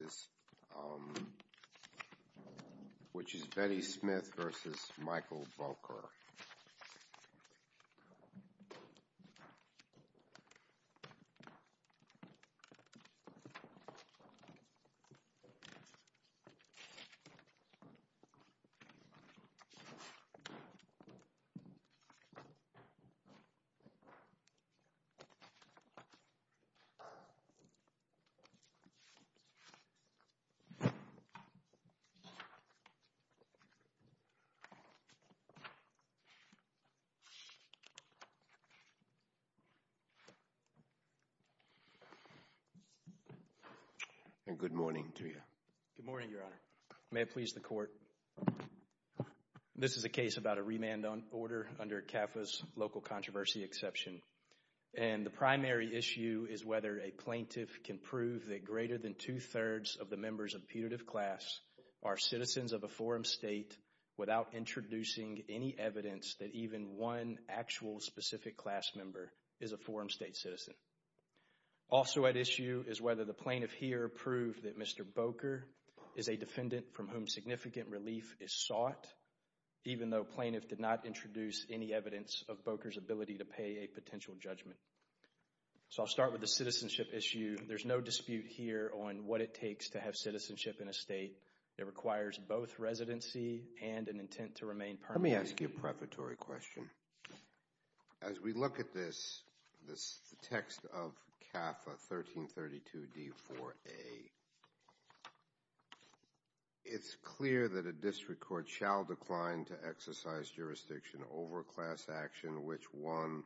This is Betty Smith v. Michael Bokor Good morning, Your Honor. May it please the Court. This is a case about a remand order under CAFA's local controversy exception, and the primary issue is whether a plaintiff can prove that greater than two-thirds of the members of putative class are citizens of a forum state without introducing any evidence that even one actual specific class member is a forum state citizen. Also at issue is whether the plaintiff here proved that Mr. Bokor is a defendant from whom significant relief is sought, even though plaintiff did not introduce any evidence of Bokor's ability to pay a potential judgment. So I'll start with the citizenship issue. There's no dispute here on what it takes to have citizenship in a state. It requires both residency and an intent to remain permanent. Let me ask you a preparatory question. As we look at this text of CAFA 1332d-4a, it's clear that a district court shall decline to exercise jurisdiction over class action in which one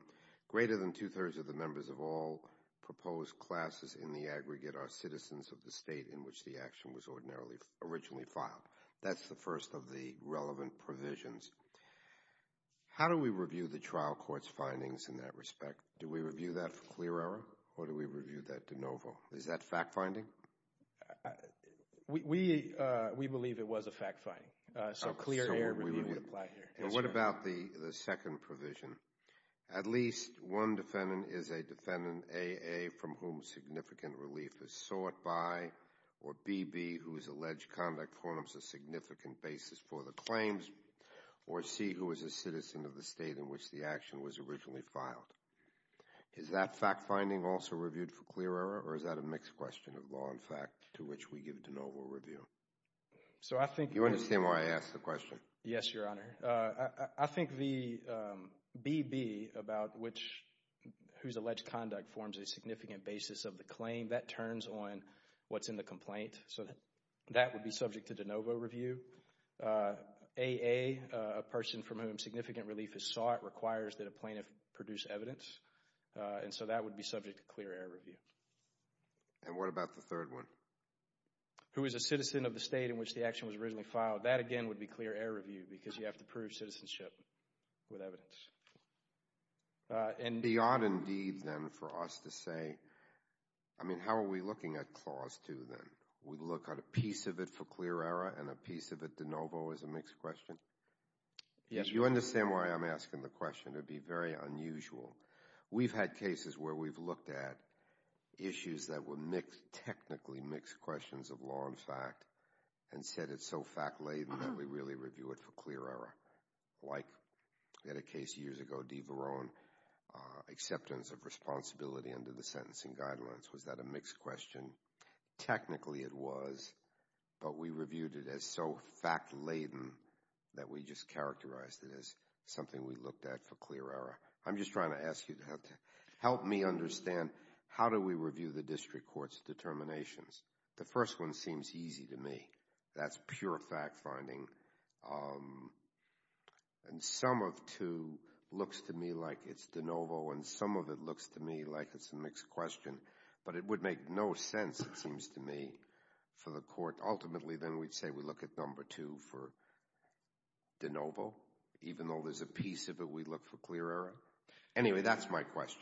greater than two-thirds of the members of all proposed classes in the aggregate are citizens of the state in which the action was originally filed. That's the first of the relevant provisions. How do we review the trial court's findings in that respect? Do we review that for clear error, or do we review that de novo? Is that fact-finding? We believe it was a fact-finding, so clear error review would apply here. And what about the second provision? At least one defendant is a defendant A, A, from whom significant relief is sought by, or B, B, whose alleged conduct forms a significant basis for the claims, or C, who is a citizen of the state in which the action was originally filed. Is that fact-finding also reviewed for clear error, or is that a mixed question of law and fact to which we give de novo review? So I think— Do you understand why I asked the question? Yes, Your Honor. I think the B, B, about which—whose alleged conduct forms a significant basis of the claim, that turns on what's in the complaint, so that would be subject to de novo review. A, A, a person from whom significant relief is sought requires that a plaintiff produce evidence, and so that would be subject to clear error review. And what about the third one? Who is a citizen of the state in which the action was originally filed, that again would be clear error review, because you have to prove citizenship with evidence. And— It would be odd, indeed, then, for us to say—I mean, how are we looking at Clause 2, then? We look at a piece of it for clear error, and a piece of it de novo as a mixed question? Yes, Your Honor. Do you understand why I'm asking the question? It would be very unusual. We've had cases where we've looked at issues that were mixed—technically mixed questions of law and fact, and said it's so fact-laden that we really review it for clear error. Like, we had a case years ago, DeVarone, acceptance of responsibility under the sentencing guidelines. Was that a mixed question? Technically, it was, but we reviewed it as so fact-laden that we just characterized it as something we looked at for clear error. I'm just trying to ask you to help me understand, how do we review the district court's determinations? The first one seems easy to me. That's pure fact-finding. And some of two looks to me like it's de novo, and some of it looks to me like it's a mixed question. But it would make no sense, it seems to me, for the court—ultimately, then, we'd say we look at number two for de novo, even though there's a piece of it we look for clear error? Anyway, that's my question.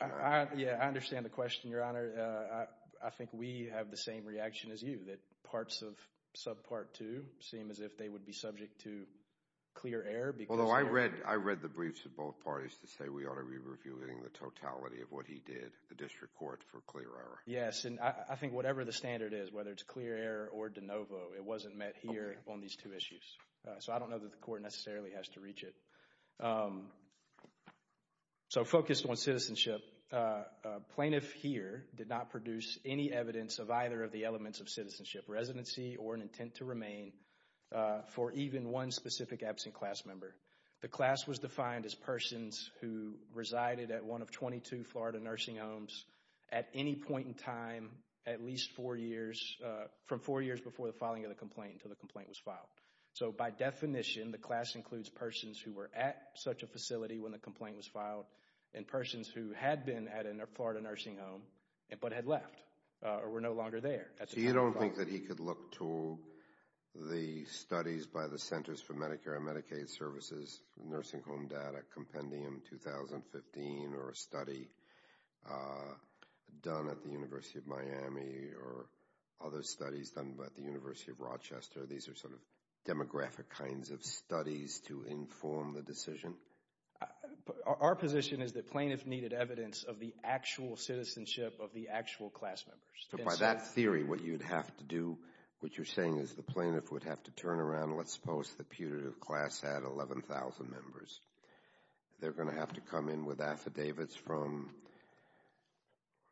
Yeah, I understand the question, Your Honor. I think we have the same reaction as you, that parts of subpart two seem as if they would be subject to clear error because— Although I read the briefs of both parties to say we ought to be reviewing the totality of what he did, the district court, for clear error. Yes, and I think whatever the standard is, whether it's clear error or de novo, it wasn't met here on these two issues. So I don't know that the court necessarily has to reach it. So focused on citizenship, plaintiff here did not produce any evidence of either of the elements of citizenship residency or an intent to remain for even one specific absent class member. The class was defined as persons who resided at one of 22 Florida nursing homes at any point in time, at least four years, from four years before the filing of the complaint, until the complaint was filed. So by definition, the class includes persons who were at such a facility when the complaint was filed and persons who had been at a Florida nursing home but had left or were no longer there. So you don't think that he could look to the studies by the Centers for Medicare and Medicaid Services, Nursing Home Data Compendium 2015 or a study done at the University of Miami or other studies done by the University of Rochester, these are sort of demographic kinds of studies to inform the decision? Our position is that plaintiff needed evidence of the actual citizenship of the actual class members. So by that theory, what you'd have to do, what you're saying is the plaintiff would have to turn around, let's suppose the putative class had 11,000 members. They're going to have to come in with affidavits from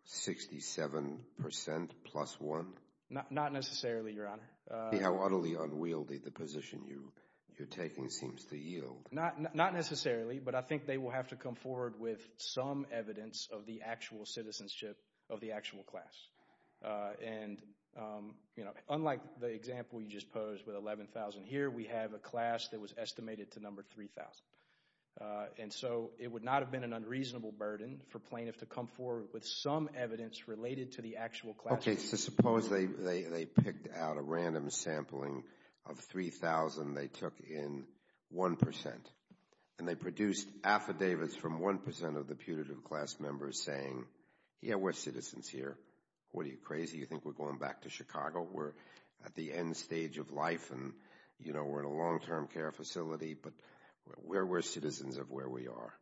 67 percent plus one? Not necessarily, Your Honor. See how utterly unwieldy the position you are taking seems to yield. Not necessarily, but I think they will have to come forward with some evidence of the actual citizenship of the actual class. And unlike the example you just posed with 11,000 here, we have a class that was estimated to number 3,000. And so it would not have been an unreasonable burden for plaintiff to come forward with some evidence related to the actual class. Okay, so suppose they picked out a random sampling of 3,000, they took in one percent, and they produced affidavits from one percent of the putative class members saying, yeah, we're citizens here. What are you, crazy? You think we're going back to Chicago? We're at the end stage of life and we're in a long-term care facility, but we're citizens of where we are.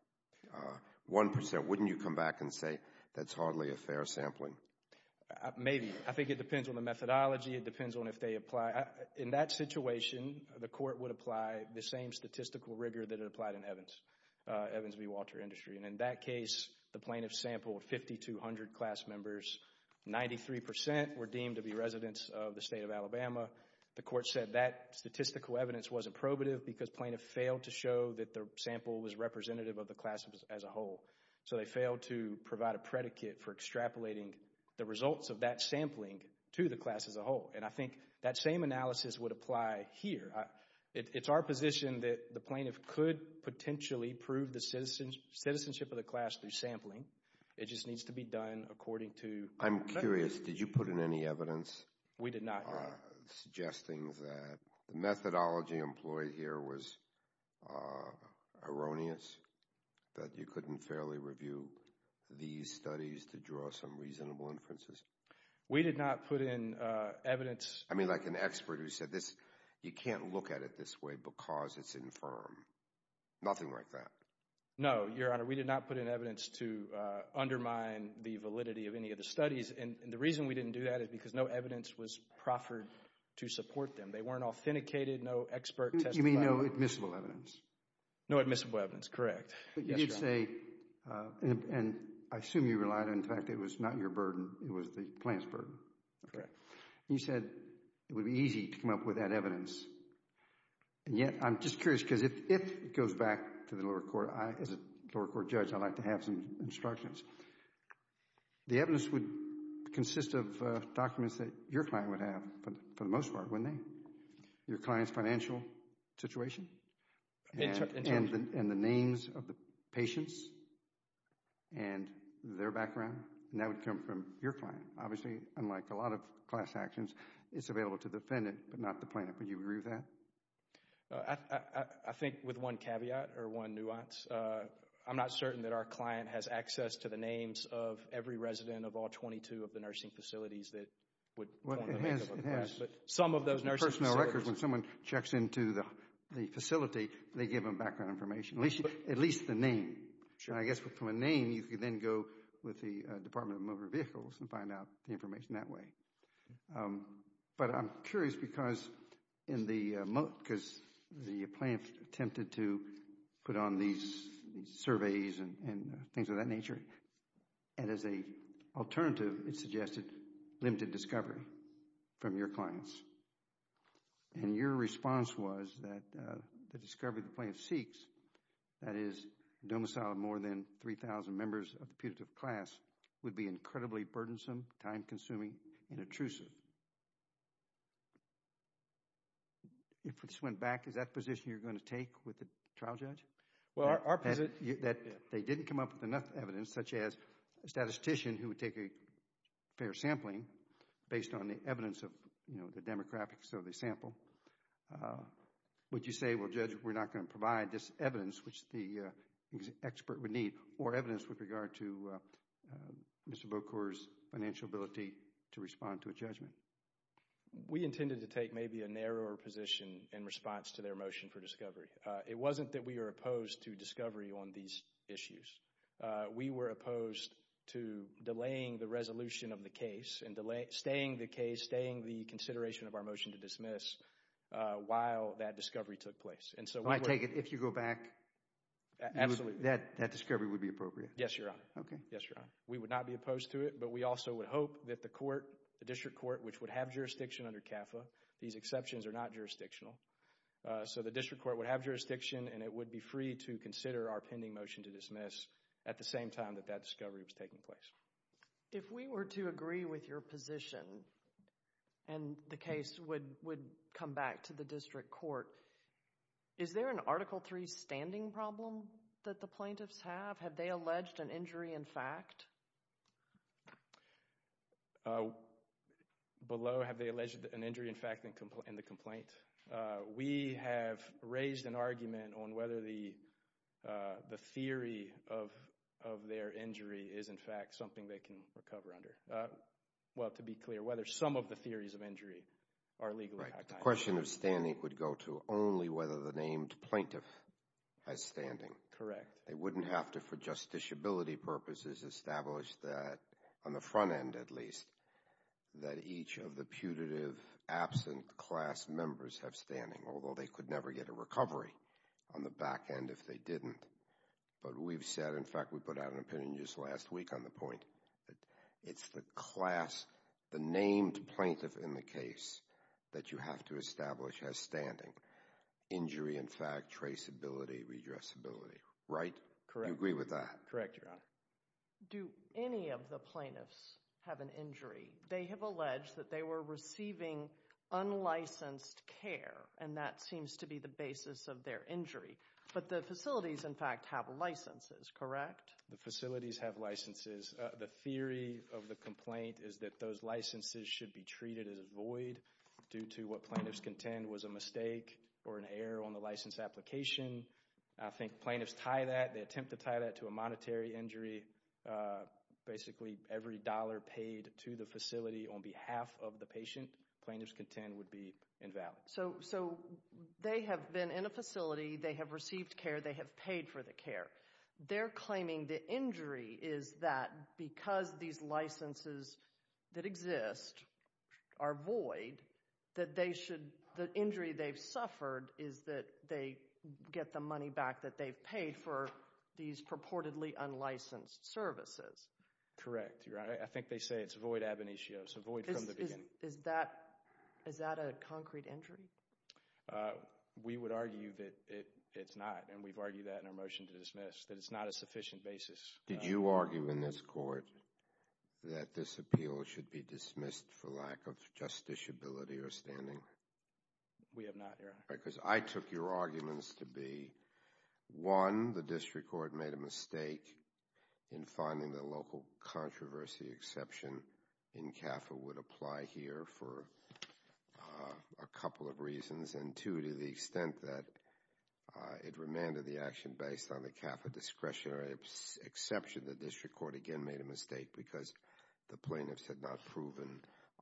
One percent. Wouldn't you come back and say that's hardly a fair sampling? Maybe. I think it depends on the methodology. It depends on if they apply. In that situation, the court would apply the same statistical rigor that it applied in Evans. Evans v. Walter Industry. And in that case, the plaintiff sampled 5,200 class members. Ninety-three percent were deemed to be residents of the state of Alabama. The court said that statistical evidence wasn't probative because plaintiff failed to show that the sample was representative of the class as a whole. So they failed to provide a predicate for extrapolating the results of that sampling to the class as a whole. And I think that same analysis would apply here. It's our position that the plaintiff could potentially prove the citizenship of the class through sampling. It just needs to be done according to... I'm curious, did you put in any evidence... We did not. ...suggesting that the methodology employed here was erroneous? That you couldn't fairly review these studies to draw some reasonable inferences? We did not put in evidence... I mean, like an expert who said, you can't look at it this way because it's infirm. Nothing like that. No, Your Honor. We did not put in evidence to undermine the validity of any of the studies. And the reason we didn't do that is because no evidence was proffered to support them. They weren't authenticated, no expert testified. You mean no admissible evidence? No admissible evidence, correct. But you did say, and I assume you relied on the fact that it was not your burden, it was the plaintiff's burden. Correct. And you said it would be easy to come up with that evidence. And yet, I'm just curious because if it goes back to the lower court, as a lower court judge, I'd like to have some instructions. The evidence would consist of documents that your client would have, for the most part, wouldn't they? Your client's financial situation? In terms of... And the names of the patients and their background. And that would come from your client. Obviously, unlike a lot of class actions, it's available to the defendant, but not the plaintiff. Would you agree with that? I think with one caveat or one nuance, I'm not certain that our client has access to the names of every resident of all 22 of the nursing facilities that would... Some of those nursing facilities... Personal records, when someone checks into the facility, they give them background information, at least the name. I guess from a name, you can then go with the Department of Motor Vehicles and find out the information that way. But I'm curious because the plaintiff attempted to put on these surveys and things of that nature, and as an alternative, it suggested limited discovery from your clients. And your response was that the discovery the plaintiff seeks, that is, domicile of more than 3,000 members of the putative class, would be incredibly burdensome, time-consuming, and intrusive. If this went back, is that the position you're going to take with the trial judge? Well, our position... That they didn't come up with enough evidence, such as a statistician who would take a fair sampling based on the evidence of the demographics of the sample. Would you say, well, Judge, we're not going to provide this evidence, which the expert would need, or evidence with regard to Mr. Bocor's financial ability to respond to a judgment? We intended to take maybe a narrower position in response to their motion for discovery. It wasn't that we were opposed to discovery on these issues. We were opposed to delaying the resolution of the case and staying the case, staying the consideration of our motion to dismiss while that discovery took place. And so we were... I take it if you go back... Absolutely. ...that that discovery would be appropriate? Yes, Your Honor. Okay. Yes, Your Honor. We would not be opposed to it, but we also would hope that the court, the district court, which would have jurisdiction under CAFA, these exceptions are not jurisdictional, so the district court would have jurisdiction and it would be free to consider our pending motion to dismiss at the same time that that discovery was taking place. If we were to agree with your position and the case would come back to the district court, is there an Article III standing problem that the plaintiffs have? Have they alleged an injury in fact? Below, have they alleged an injury in fact in the complaint? We have raised an argument on whether the theory of their injury is in fact something they can recover under. Well, to be clear, whether some of the theories of injury are legally... The question of standing would go to only whether the named plaintiff has standing. Correct. They wouldn't have to for justiciability purposes establish that on the front end at least that each of the putative absent class members have standing, although they could never get a recovery on the back end if they didn't. But we've said, in fact, we put out an opinion just last week on the point that it's the class, the named plaintiff in the case that you have to establish has standing. Injury in fact, traceability, redressability, right? Correct. You agree with that? Correct, Your Honor. Do any of the plaintiffs have an injury? They have alleged that they were receiving unlicensed care and that seems to be the basis of their injury. But the facilities, in fact, have licenses, correct? The facilities have licenses. The theory of the complaint is that those licenses should be treated as void due to what plaintiffs contend was a mistake or an error on the license application. I think plaintiffs tie that, they attempt to tie that to a monetary injury. Basically, every dollar paid to the facility on behalf of the patient, plaintiffs contend would be invalid. So they have been in a facility, they have received care, they have paid for the care. They're claiming the injury is that because these licenses that exist are void, that they should, the injury they've suffered is that they get the money back that they've paid for these purportedly unlicensed services. Correct, Your Honor. I think they say it's void ab initio, so void from the beginning. Is that a concrete injury? Uh, we would argue that it's not, and we've argued that in our motion to dismiss, that it's not a sufficient basis. Did you argue in this court that this appeal should be dismissed for lack of justiciability or standing? We have not, Your Honor. Because I took your arguments to be, one, the district court made a mistake in finding the local controversy exception in CAFA would apply here for a couple of reasons, and two, to the extent that it remanded the action based on the CAFA discretionary exception, the district court again made a mistake because the plaintiffs had not proven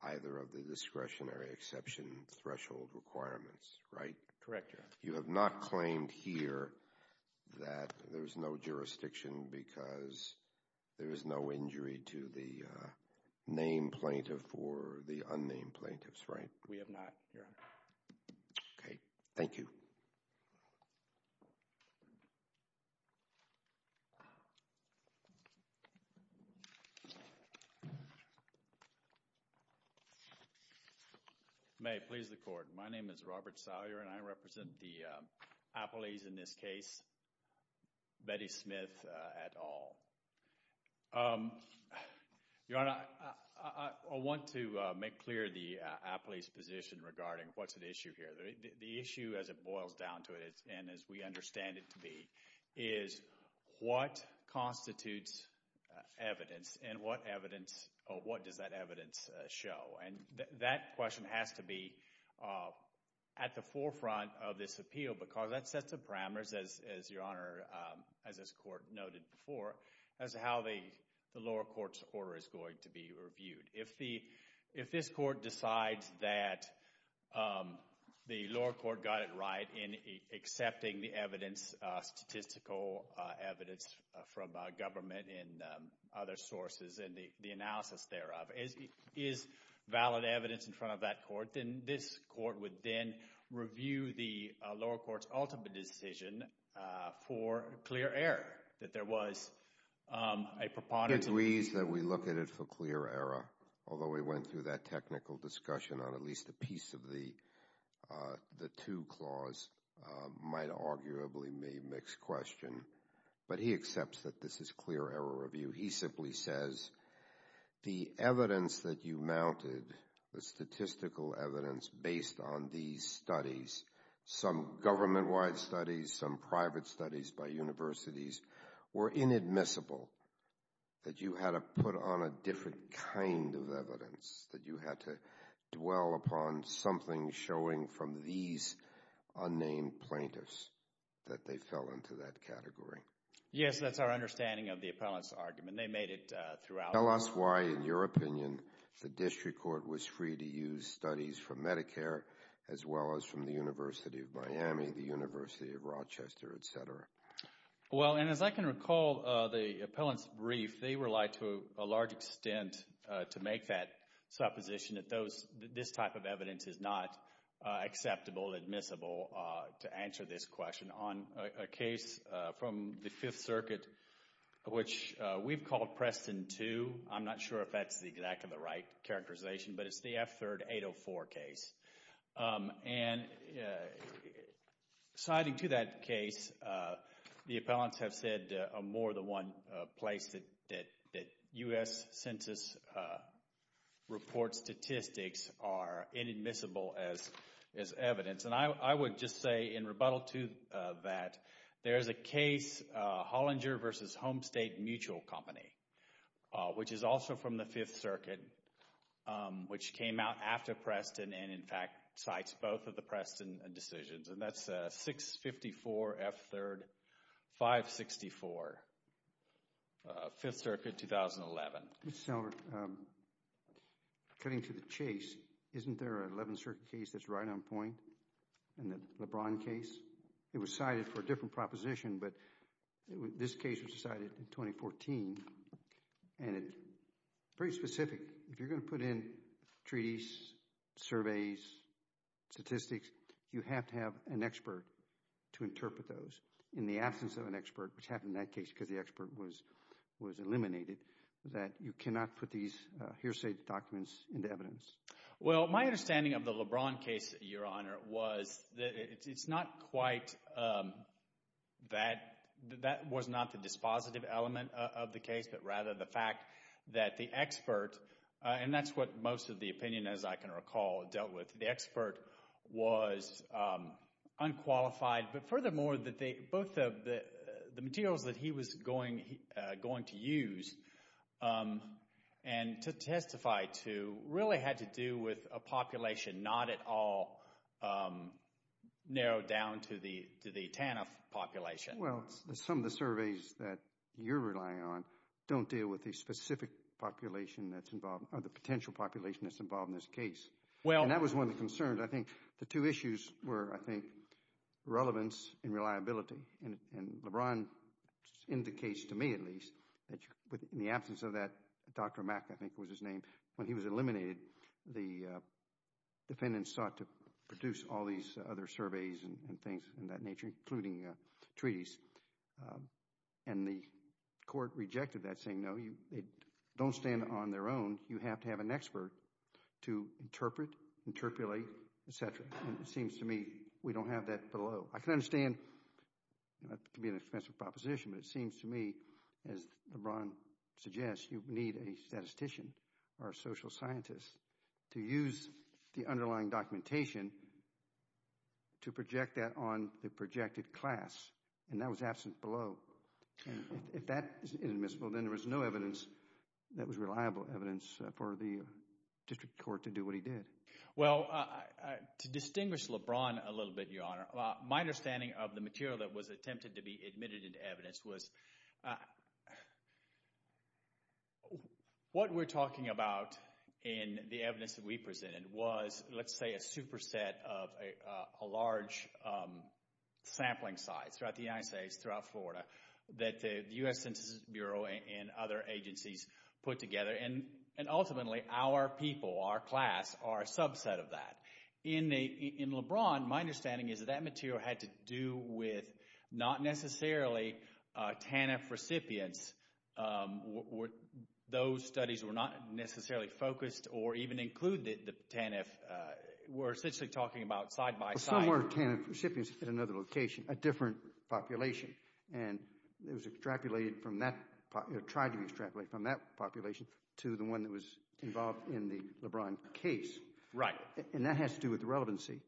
either of the discretionary exception threshold requirements, right? Correct, Your Honor. You have not claimed here that there's no jurisdiction because there is no injury to the named plaintiff or the unnamed plaintiffs, right? We have not, Your Honor. Okay. Thank you. May it please the court. My name is Robert Salyer, and I represent the appellees in this case, Betty Smith et al. Your Honor, I want to make clear the appellee's position regarding what's at issue here. The issue as it boils down to it, and as we understand it to be, is what constitutes evidence, and what evidence, or what does that evidence show? That question has to be at the forefront of this appeal because that sets the parameters, as Your Honor, as this court noted before, as to how the lower court's order is going to be reviewed. If this court decides that the lower court got it right in accepting the statistical evidence from government and other sources, and the analysis thereof is valid evidence in front of that court, then this court would then review the lower court's ultimate decision for clear error, that there was a preponderance. He agrees that we look at it for clear error, although we went through that technical discussion on at least a piece of the two clause, might arguably be a mixed question. But he accepts that this is clear error review. He simply says, the evidence that you mounted, the statistical evidence based on these studies, some government-wide studies, some private studies by universities, were inadmissible, that you had to put on a different kind of evidence, that you had to dwell upon something showing from these unnamed plaintiffs that they fell into that category. Yes, that's our understanding of the appellant's argument. They made it throughout. Tell us why, in your opinion, the district court was free to use studies from Medicare, as well as from the University of Miami, the University of Rochester, et cetera. Well, and as I can recall, the appellant's brief, they relied to a large extent to make that position that this type of evidence is not acceptable, admissible, to answer this question on a case from the Fifth Circuit, which we've called Preston 2. I'm not sure if that's exactly the right characterization, but it's the F-3804 case. And citing to that case, the appellants have said more than one place that U.S. Census report statistics are inadmissible as evidence. And I would just say, in rebuttal to that, there's a case, Hollinger v. Home State Mutual Company, which is also from the Fifth Circuit, which came out after Preston and, in fact, cites both of the Preston decisions. And that's 654 F-3-564, Fifth Circuit, 2011. Mr. Seller, cutting to the chase, isn't there an Eleventh Circuit case that's right on point in the LeBron case? It was cited for a different proposition, but this case was cited in 2014. And it's pretty specific. If you're going to put in treaties, surveys, statistics, you have to have an expert to interpret those. In the absence of an expert, which happened in that case because the expert was eliminated, you cannot put these hearsay documents into evidence. Well, my understanding of the LeBron case, Your Honor, was that it's not quite that, that was not the dispositive element of the case, but rather the fact that the expert, and that's what most of the opinion, as I can recall, dealt with, the expert was unqualified. But furthermore, both of the materials that he was going to use and to testify to really had to do with a population not at all narrowed down to the TANF population. Well, some of the surveys that you're relying on don't deal with the specific population that's involved, or the potential population that's involved in this case. And that was one of the concerns. I think the two issues were, I think, relevance and reliability. And LeBron indicates, to me at least, that in the absence of that, Dr. Mack, I think was his name, when he was eliminated, the defendants sought to produce all these other And the court rejected that, saying, no, they don't stand on their own. You have to have an expert to interpret, interpolate, et cetera. And it seems to me we don't have that below. I can understand, that can be an expensive proposition, but it seems to me, as LeBron suggests, you need a statistician or a social scientist to use the underlying documentation to project that on the projected class. And that was absent below. And if that isn't admissible, then there was no evidence that was reliable evidence for the district court to do what he did. Well, to distinguish LeBron a little bit, Your Honor, my understanding of the material that was attempted to be admitted into evidence was, what we're talking about in the evidence that we presented was, let's say, a superset of a large sampling site throughout the United States, throughout Florida, that the U.S. Census Bureau and other agencies put together. And ultimately, our people, our class, are a subset of that. In LeBron, my understanding is that that material had to do with not necessarily TANF recipients. Were those studies were not necessarily focused or even included the TANF? We're essentially talking about side by side. Some were TANF recipients at another location, a different population. And it was extrapolated from that, or tried to be extrapolated from that population to the one that was involved in the LeBron case. Right. And that has to do with relevancy.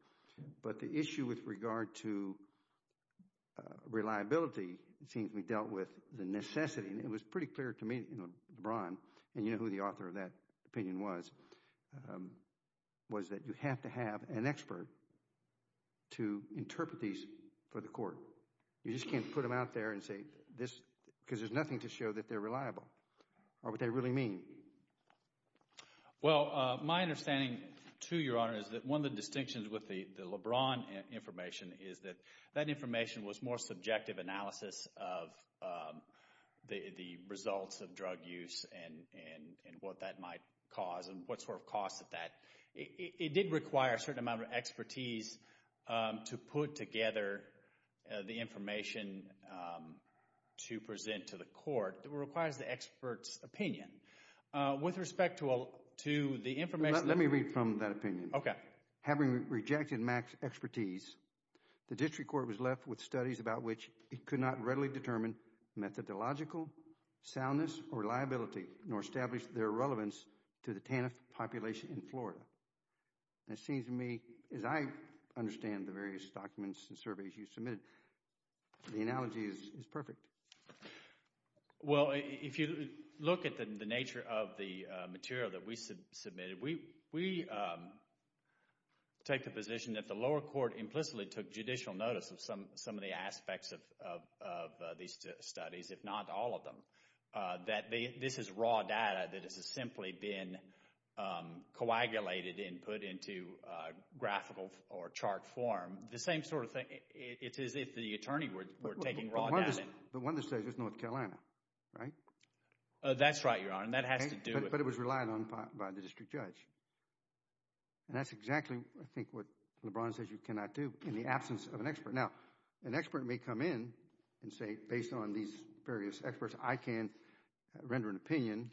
But the issue with regard to reliability seems to be dealt with the necessity. And it was pretty clear to me in LeBron, and you know who the author of that opinion was, was that you have to have an expert to interpret these for the court. You just can't put them out there and say this because there's nothing to show that they're reliable, or what they really mean. Well, my understanding, too, Your Honor, is that one of the distinctions with the LeBron information is that that information was more subjective analysis of the results of drug use and what that might cause and what sort of costs of that. It did require a certain amount of expertise to put together the information to present to the court. It requires the expert's opinion. With respect to the information... Let me read from that opinion. Okay. Having rejected Mack's expertise, the district court was left with studies about which it could not readily determine methodological soundness or reliability, nor establish their relevance to the TANF population in Florida. And it seems to me, as I understand the various documents and surveys you submitted, the analogy is perfect. Well, if you look at the nature of the material that we submitted, we take the position that the lower court implicitly took judicial notice of some of the aspects of these studies, if not all of them. That this is raw data that has simply been coagulated and put into a graphical or chart form. The same sort of thing, it's as if the attorney were taking raw data. The one that says it's North Carolina, right? That's right, Your Honor. That has to do with... But it was relied on by the district judge. And that's exactly, I think, what LeBron says you cannot do in the absence of an expert. Now, an expert may come in and say, based on these various experts, I can render an opinion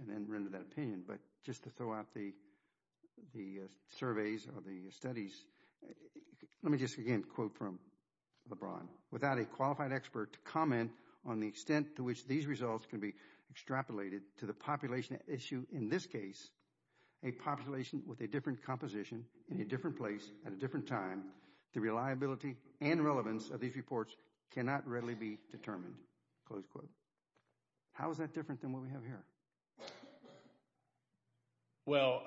and then render that opinion. But just to throw out the surveys or the studies, let me just again quote from LeBron. Without a qualified expert to comment on the extent to which these results can be extrapolated to the population issue in this case, a population with a different composition, in a different place, at a different time, the reliability and relevance of these reports cannot readily be determined. Close quote. How is that different than what we have here? Well,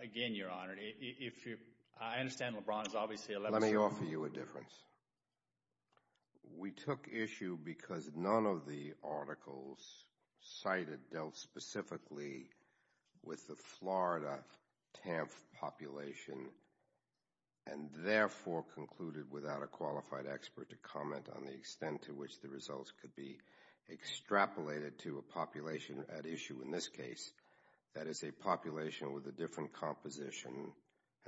again, Your Honor, if you... I understand LeBron is obviously... Let me offer you a difference. We took issue because none of the articles cited dealt specifically with the Florida TANF population and therefore concluded without a qualified expert to comment on the extent to which the results could be extrapolated to a population at issue in this case, that is a population with a different composition,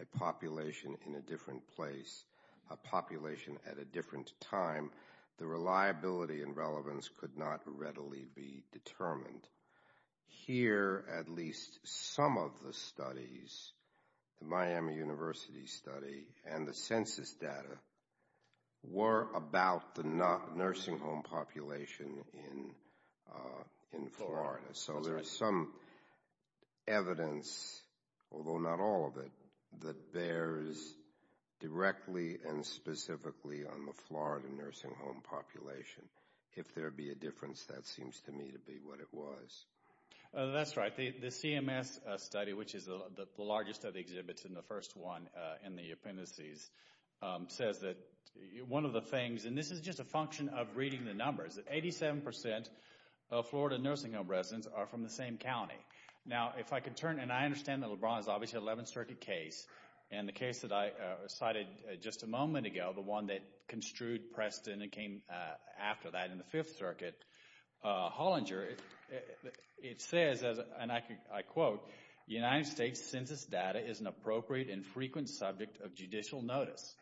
a population in a different place, a population at a different time, the reliability and relevance could not readily be determined. Here, at least some of the studies, the Miami University study and the census data, were about the nursing home population in Florida. So there is some evidence, although not all of it, that bears directly and specifically on the Florida nursing home population. If there be a difference, that seems to me to be what it was. That's right. The CMS study, which is the largest of the exhibits and the first one in the appendices, says that one of the things, and this is just a function of reading the numbers, that 87% of Florida nursing home residents are from the same county. Now, if I could turn, and I understand that LeBron is obviously an 11th Circuit case, and the case that I cited just a moment ago, the one that construed Preston and came after that in the 5th Circuit, Hollinger, it says, and I quote, the United States census data is an appropriate and frequent subject of judicial notice.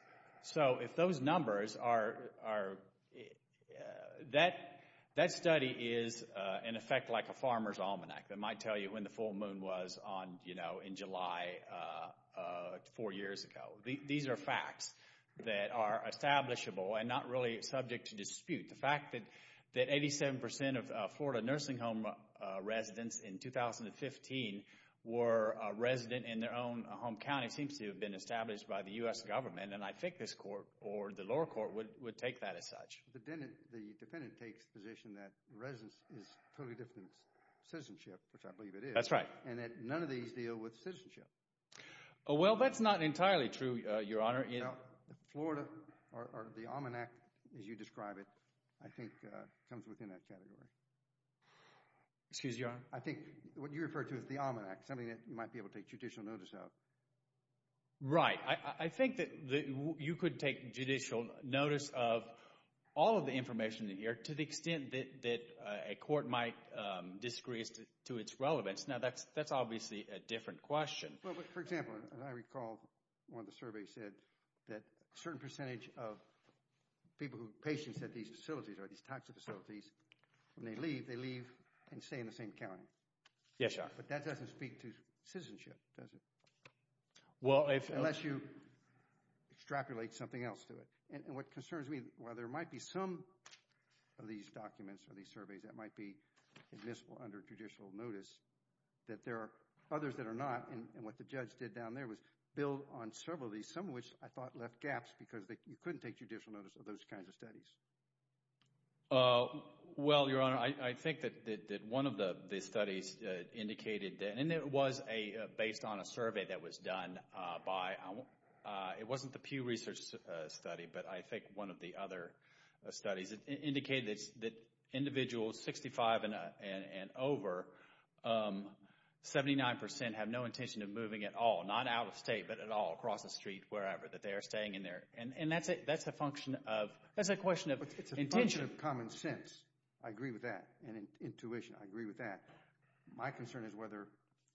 So if those numbers are, that study is in effect like a farmer's almanac that might tell you when the full moon was on, you know, in July four years ago. These are facts that are establishable and not really subject to dispute. The fact that 87% of Florida nursing home residents in 2015 were resident in their own home county seems to have been established by the U.S. government, and I think this court or the lower court would take that as such. The defendant takes the position that residence is totally different than citizenship, which I believe it is. That's right. And that none of these deal with citizenship. Well, that's not entirely true, Your Honor. Florida, or the almanac as you describe it, I think comes within that category. Excuse me, Your Honor. I think what you refer to as the almanac, something that you might be able to take judicial notice of. Right. I think that you could take judicial notice of all of the information in here to the extent that a court might disagree to its relevance. Now, that's obviously a different question. Well, but for example, as I recall, one of the surveys said that a certain percentage of people, patients at these facilities or these types of facilities, when they leave, they leave and stay in the same county. Yes, Your Honor. But that doesn't speak to citizenship, does it? Well, if... Unless you extrapolate something else to it. And what concerns me, while there might be some of these documents or these surveys that might be admissible under judicial notice, that there are others that are not. And what the judge did down there was build on several of these, some of which I thought left gaps because you couldn't take judicial notice of those kinds of studies. Well, Your Honor, I think that one of the studies indicated, and it was based on a survey that was done by, it wasn't the Pew Research study, but I think one of the other studies, it indicated that individuals 65 and over, 79% have no intention of moving at all. Not out of state, but at all, across the street, wherever, that they are staying in there. And that's a function of... That's a question of intention. It's a function of common sense. I agree with that. And intuition. I agree with that. My concern is whether,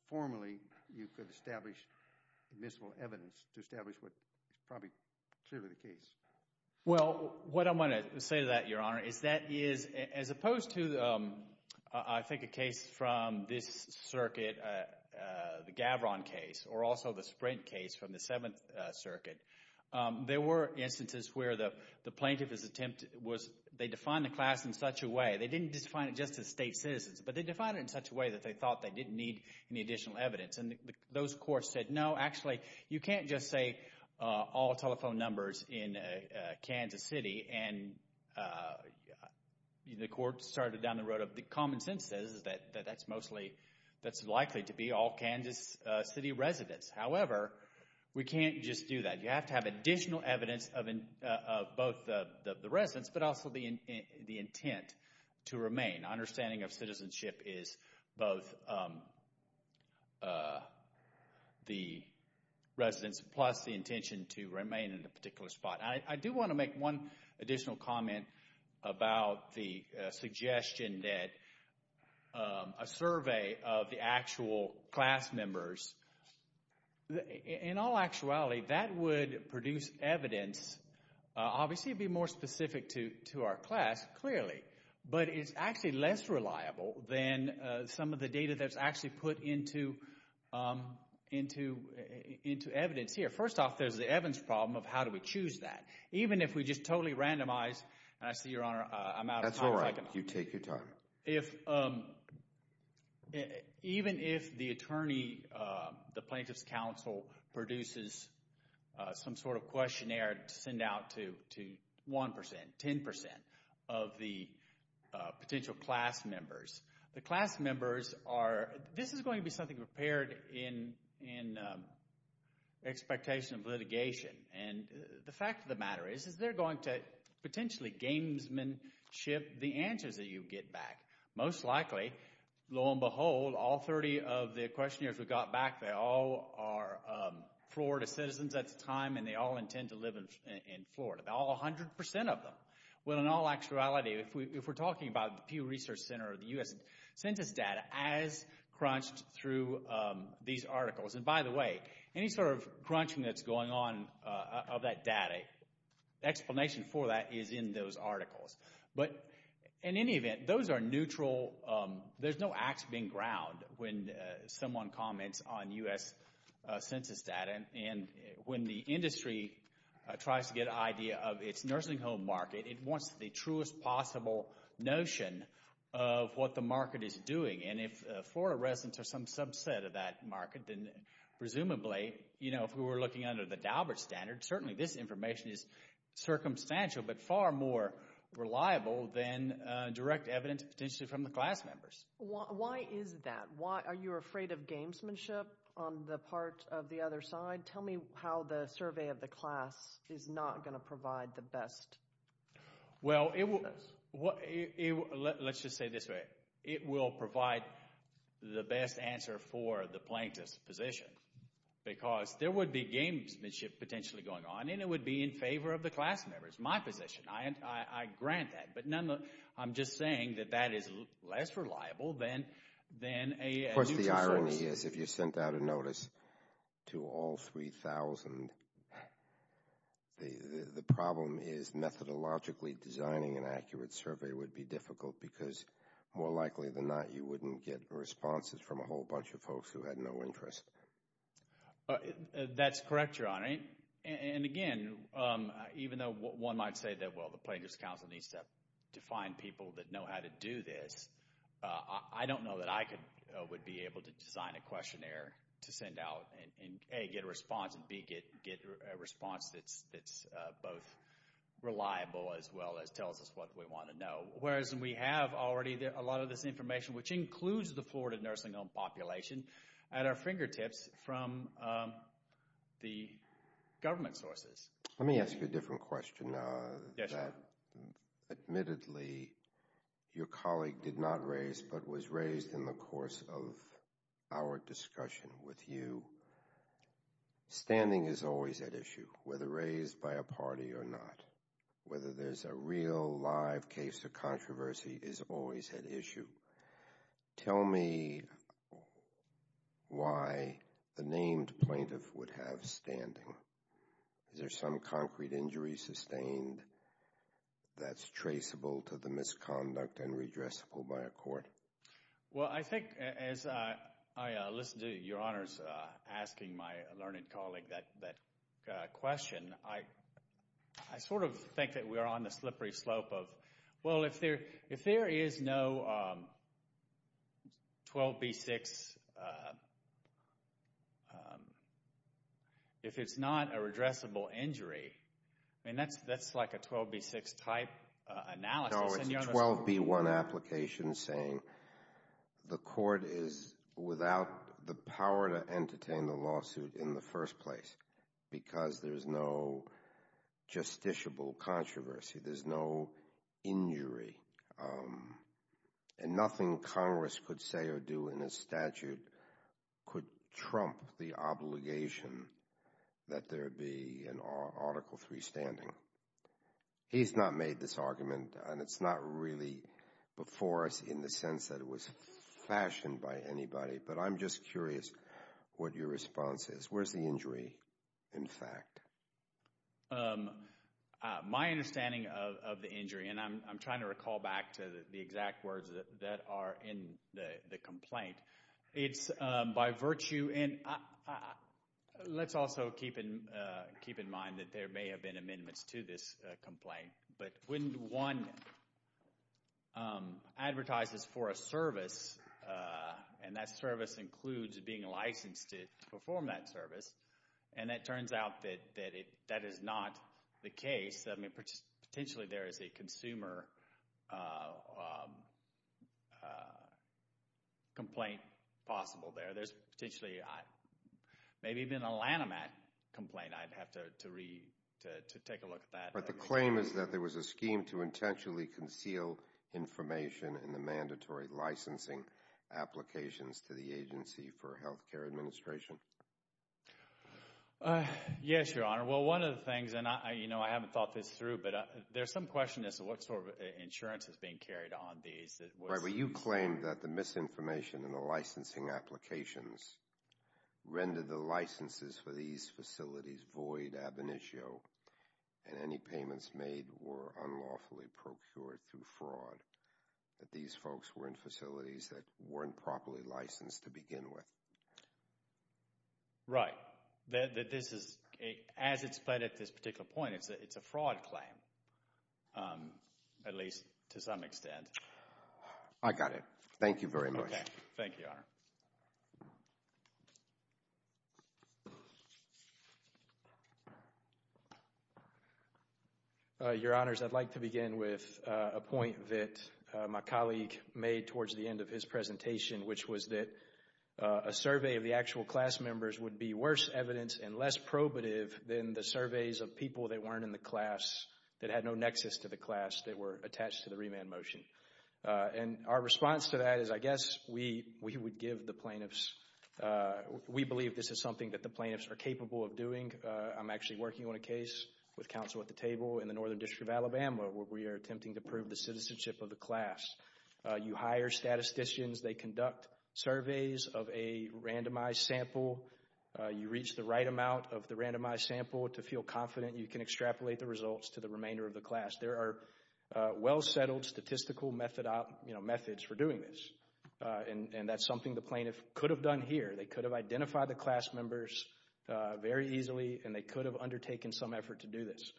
formally, you could establish admissible evidence to establish what is probably clearly the case. Well, what I'm going to say to that, Your Honor, is that is, as opposed to, I think, a case from this circuit, the Gavron case, or also the Sprint case from the Seventh Circuit, there were instances where the plaintiff's attempt was, they defined the class in such a way, they didn't define it just as state citizens, but they defined it in such a way that they thought they didn't need any additional evidence. And those courts said, no, actually, you can't just say all telephone numbers in Kansas City. And the court started down the road of, the common sense says that that's mostly, that's likely to be all Kansas City residents. However, we can't just do that. You have to have additional evidence of both the residents, but also the intent to remain. Understanding of citizenship is both the residents plus the intention to remain in a particular spot. I do want to make one additional comment about the suggestion that a survey of the actual class members, in all actuality, that would produce evidence. Obviously, it would be more specific to our class, clearly, but it's actually less reliable than some of the data that's actually put into evidence here. First off, there's the Evans problem of how do we choose that? Even if we just totally randomize, and I see, Your Honor, I'm out of time. That's all right. You take your time. If, even if the attorney, the plaintiff's counsel produces some sort of questionnaire to send out to 1%, 10% of the potential class members, the class members are, this is going to be something prepared in expectation of litigation. And the fact of the matter is, is they're going to potentially gamesmanship the answers that you get back. Most likely, lo and behold, all 30 of the questionnaires we got back, they all are Florida citizens at the time, and they all intend to live in Florida, all 100% of them. Well, in all actuality, if we're talking about the Pew Research Center or the U.S. Census data as crunched through these articles, and by the way, any sort of crunching that's going on of that data, explanation for that is in those articles. But in any event, those are neutral, there's no ax being ground when someone comments on U.S. Census data. And when the industry tries to get an idea of its nursing home market, it wants the truest possible notion of what the market is doing. And if Florida residents are some subset of that market, then presumably, you know, if we were looking under the Daubert standard, certainly this information is circumstantial, but far more reliable than direct evidence potentially from the class members. Why is that? Why? Are you afraid of gamesmanship on the part of the other side? Tell me how the survey of the class is not going to provide the best answers. Well, let's just say it this way. It will provide the best answer for the plaintiff's position, because there would be gamesmanship potentially going on, and it would be in favor of the class members, my position. I grant that, but I'm just saying that that is less reliable than a U.S. Census. Of course, the irony is if you sent out a notice to all 3,000, the problem is methodologically designing an accurate survey would be difficult, because more likely than not, you wouldn't get responses from a whole bunch of folks who had no interest. That's correct, Your Honor. And again, even though one might say that, well, the Plaintiff's Counsel needs to find people that know how to do this, I don't know that I would be able to design a questionnaire to send out and, A, get a response, and, B, get a response that's both reliable as well as tells us what we want to know, whereas we have already a lot of this information, which includes the Florida nursing home population, at our fingertips from the government sources. Let me ask you a different question. Admittedly, your colleague did not raise, but was raised in the course of our discussion with you, standing is always at issue, whether raised by a party or not, whether there's a real, live case of controversy is always at issue. Tell me why the named plaintiff would have standing. Is there some concrete injury sustained that's traceable to the misconduct and redressable by a court? Well, I think, as I listened to your Honors asking my learned colleague that question, I sort of think that we're on the slippery slope of, well, if there is no 12B6, if it's not a redressable injury, I mean, that's like a 12B6 type analysis. No, it's a 12B1 application saying the court is without the power to entertain the lawsuit in the first place because there's no justiciable controversy. There's no injury and nothing Congress could say or do in a statute could trump the obligation that there be an Article III standing. He's not made this argument and it's not really before us in the sense that it was fashioned by anybody, but I'm just curious what your response is. Where's the injury in fact? My understanding of the injury, and I'm trying to recall back to the exact words that are in the complaint, it's by virtue, and let's also keep in mind that there may have been a service, and that service includes being licensed to perform that service, and it turns out that that is not the case. I mean, potentially there is a consumer complaint possible there. There's potentially, maybe even a Lanham Act complaint I'd have to read to take a look at that. But the claim is that there was a scheme to intentionally conceal information in the mandatory licensing applications to the Agency for Healthcare Administration? Yes, Your Honor. Well, one of the things, and I haven't thought this through, but there's some question as to what sort of insurance is being carried on these. You claim that the misinformation in the licensing applications rendered the licenses for these payments made were unlawfully procured through fraud, that these folks were in facilities that weren't properly licensed to begin with. Right. That this is, as it's been at this particular point, it's a fraud claim, at least to some extent. I got it. Thank you very much. Okay. Thank you, Your Honor. Your Honors, I'd like to begin with a point that my colleague made towards the end of his presentation, which was that a survey of the actual class members would be worse evidence and less probative than the surveys of people that weren't in the class, that had no nexus to the class, that were attached to the remand motion. And our response to that is, I guess, we would give the plaintiffs, we believe this is something that the plaintiffs are capable of doing. I'm actually working on a case with counsel at the table in the Northern District of Alabama where we are attempting to prove the citizenship of the class. You hire statisticians, they conduct surveys of a randomized sample. You reach the right amount of the randomized sample to feel confident you can extrapolate the results to the remainder of the class. There are well-settled statistical methods for doing this, and that's something the plaintiff could have done here. They could have identified the class members very easily, and they could have undertaken some effort to do this.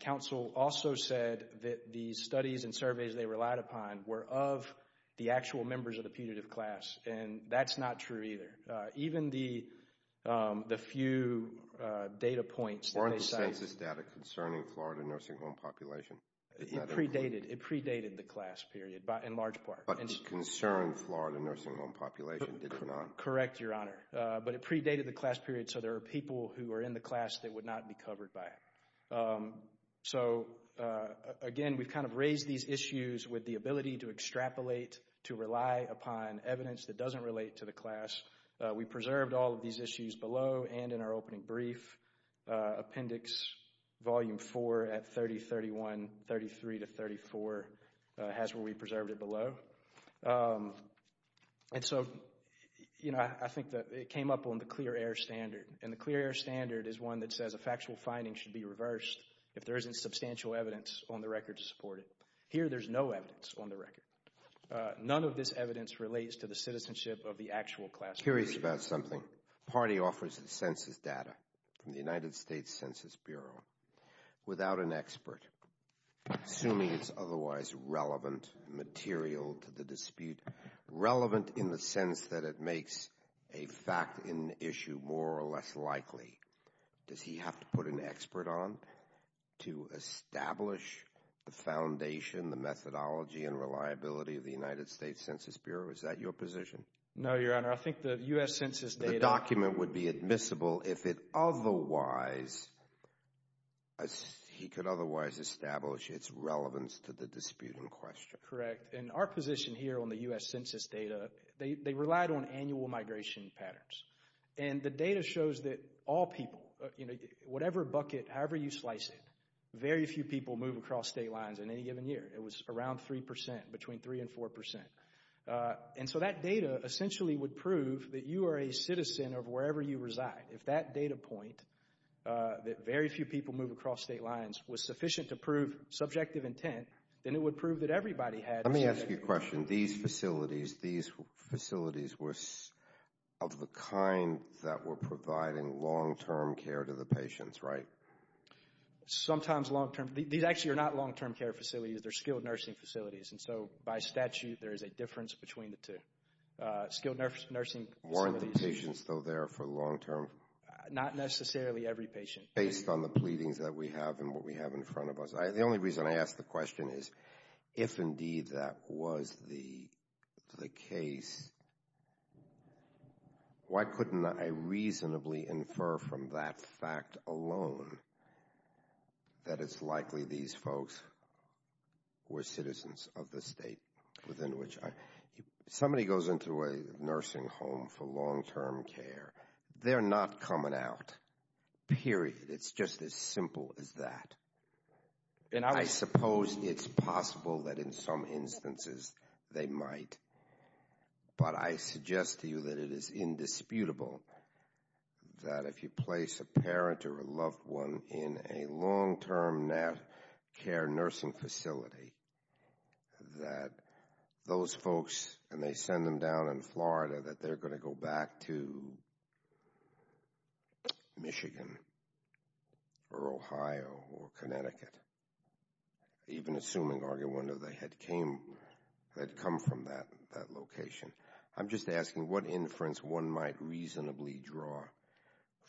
Counsel also said that the studies and surveys they relied upon were of the actual members of the putative class, and that's not true either. Even the few data points that they cite... Weren't the census data concerning Florida nursing home population? It predated, it predated the class period in large part. But it concerned Florida nursing home population, did it or not? Correct, Your Honor. But it predated the class period, so there are people who are in the class that would not be covered by it. So again, we've kind of raised these issues with the ability to extrapolate, to rely upon evidence that doesn't relate to the class. We preserved all of these issues below, and in our opening brief, appendix volume four at 3031, 33 to 34, has where we preserved it below. And so, you know, I think that it came up on the clear air standard, and the clear air standard is one that says a factual finding should be reversed if there isn't substantial evidence on the record to support it. Here there's no evidence on the record. None of this evidence relates to the citizenship of the actual class period. Curious about something. Party offers its census data from the United States Census Bureau without an expert, assuming it's otherwise relevant material to the dispute, relevant in the sense that it makes a fact in issue more or less likely. Does he have to put an expert on to establish the foundation, the methodology, and reliability of the United States Census Bureau? Is that your position? No, Your Honor. I think the U.S. Census data- The document would be admissible if it otherwise, he could otherwise establish its relevance to the dispute in question. Correct. And our position here on the U.S. Census data, they relied on annual migration patterns. And the data shows that all people, whatever bucket, however you slice it, very few people move across state lines in any given year. It was around 3%, between 3 and 4%. And so that data essentially would prove that you are a citizen of wherever you reside. If that data point, that very few people move across state lines, was sufficient to prove subjective intent, then it would prove that everybody had- Let me ask you a question. In these facilities, these facilities were of the kind that were providing long-term care to the patients, right? Sometimes long-term. These actually are not long-term care facilities. They're skilled nursing facilities. And so by statute, there is a difference between the two. Skilled nursing facilities- Weren't the patients still there for long-term? Not necessarily every patient. Based on the pleadings that we have and what we have in front of us. The only reason I ask the question is, if indeed that was the case, why couldn't I reasonably infer from that fact alone that it's likely these folks were citizens of the state within which I- If somebody goes into a nursing home for long-term care, they're not coming out, period. It's just as simple as that. And I suppose it's possible that in some instances they might, but I suggest to you that it is indisputable that if you place a parent or a loved one in a long-term care nursing facility, that those folks, and they send them down in Florida, that they're going to go back to Michigan or Ohio or Connecticut, even assuming, argue one day, they had come from that location. I'm just asking what inference one might reasonably draw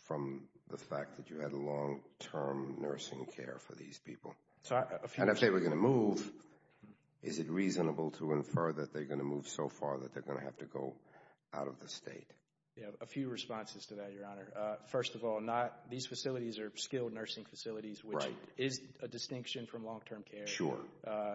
from the fact that you had a long-term nursing care for these people. And if they were going to move, is it reasonable to infer that they're going to move so far that they're going to have to go out of the state? A few responses to that, Your Honor. First of all, these facilities are skilled nursing facilities, which is a distinction from long-term care. Sure.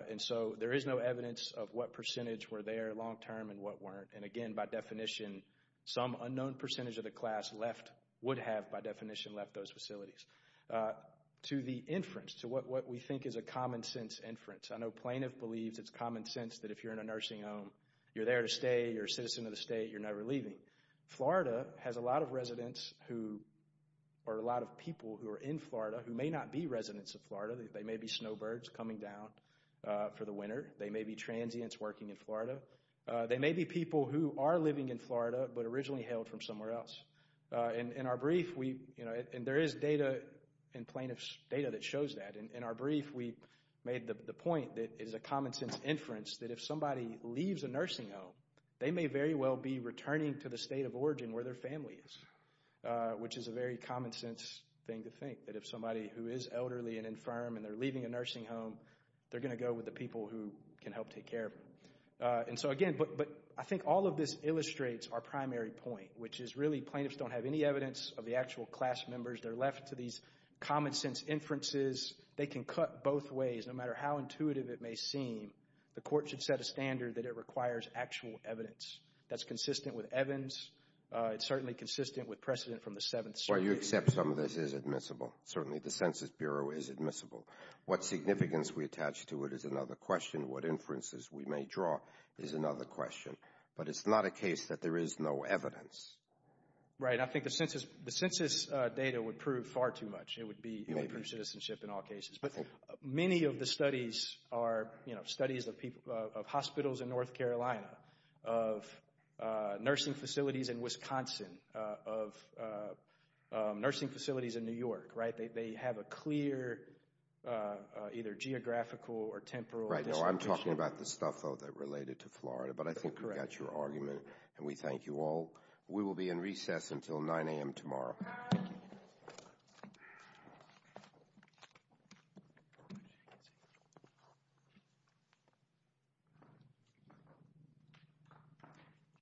And so, there is no evidence of what percentage were there long-term and what weren't. And again, by definition, some unknown percentage of the class left, would have by definition left those facilities. To the inference, to what we think is a common sense inference, I know plaintiff believes it's common sense that if you're in a nursing home, you're there to stay, you're a citizen of the state, you're never leaving. Florida has a lot of residents who, or a lot of people who are in Florida who may not be residents of Florida. They may be snowbirds coming down for the winter. They may be transients working in Florida. They may be people who are living in Florida, but originally hailed from somewhere else. In our brief, we, you know, and there is data in plaintiff's, data that shows that. In our brief, we made the point that it is a common sense inference that if somebody leaves a nursing home, they may very well be returning to the state of origin where their family is, which is a very common sense thing to think, that if somebody who is elderly and infirm and they're leaving a nursing home, they're going to go with the people who can help take care of them. And so again, but I think all of this illustrates our primary point, which is really plaintiffs don't have any evidence of the actual class members. They're left to these common sense inferences. They can cut both ways, no matter how intuitive it may seem. The court should set a standard that it requires actual evidence. That's consistent with Evans. It's certainly consistent with precedent from the 7th Circuit. Well, you accept some of this is admissible. Certainly the Census Bureau is admissible. What significance we attach to it is another question. What inferences we may draw is another question. But it's not a case that there is no evidence. Right. I mean, I think the census data would prove far too much. It would improve citizenship in all cases. But many of the studies are studies of hospitals in North Carolina, of nursing facilities in Wisconsin, of nursing facilities in New York, right? They have a clear either geographical or temporal distribution. Right. No, I'm talking about the stuff, though, that related to Florida. But I think we got your argument, and we thank you all. We will be in recess until 9 a.m. tomorrow.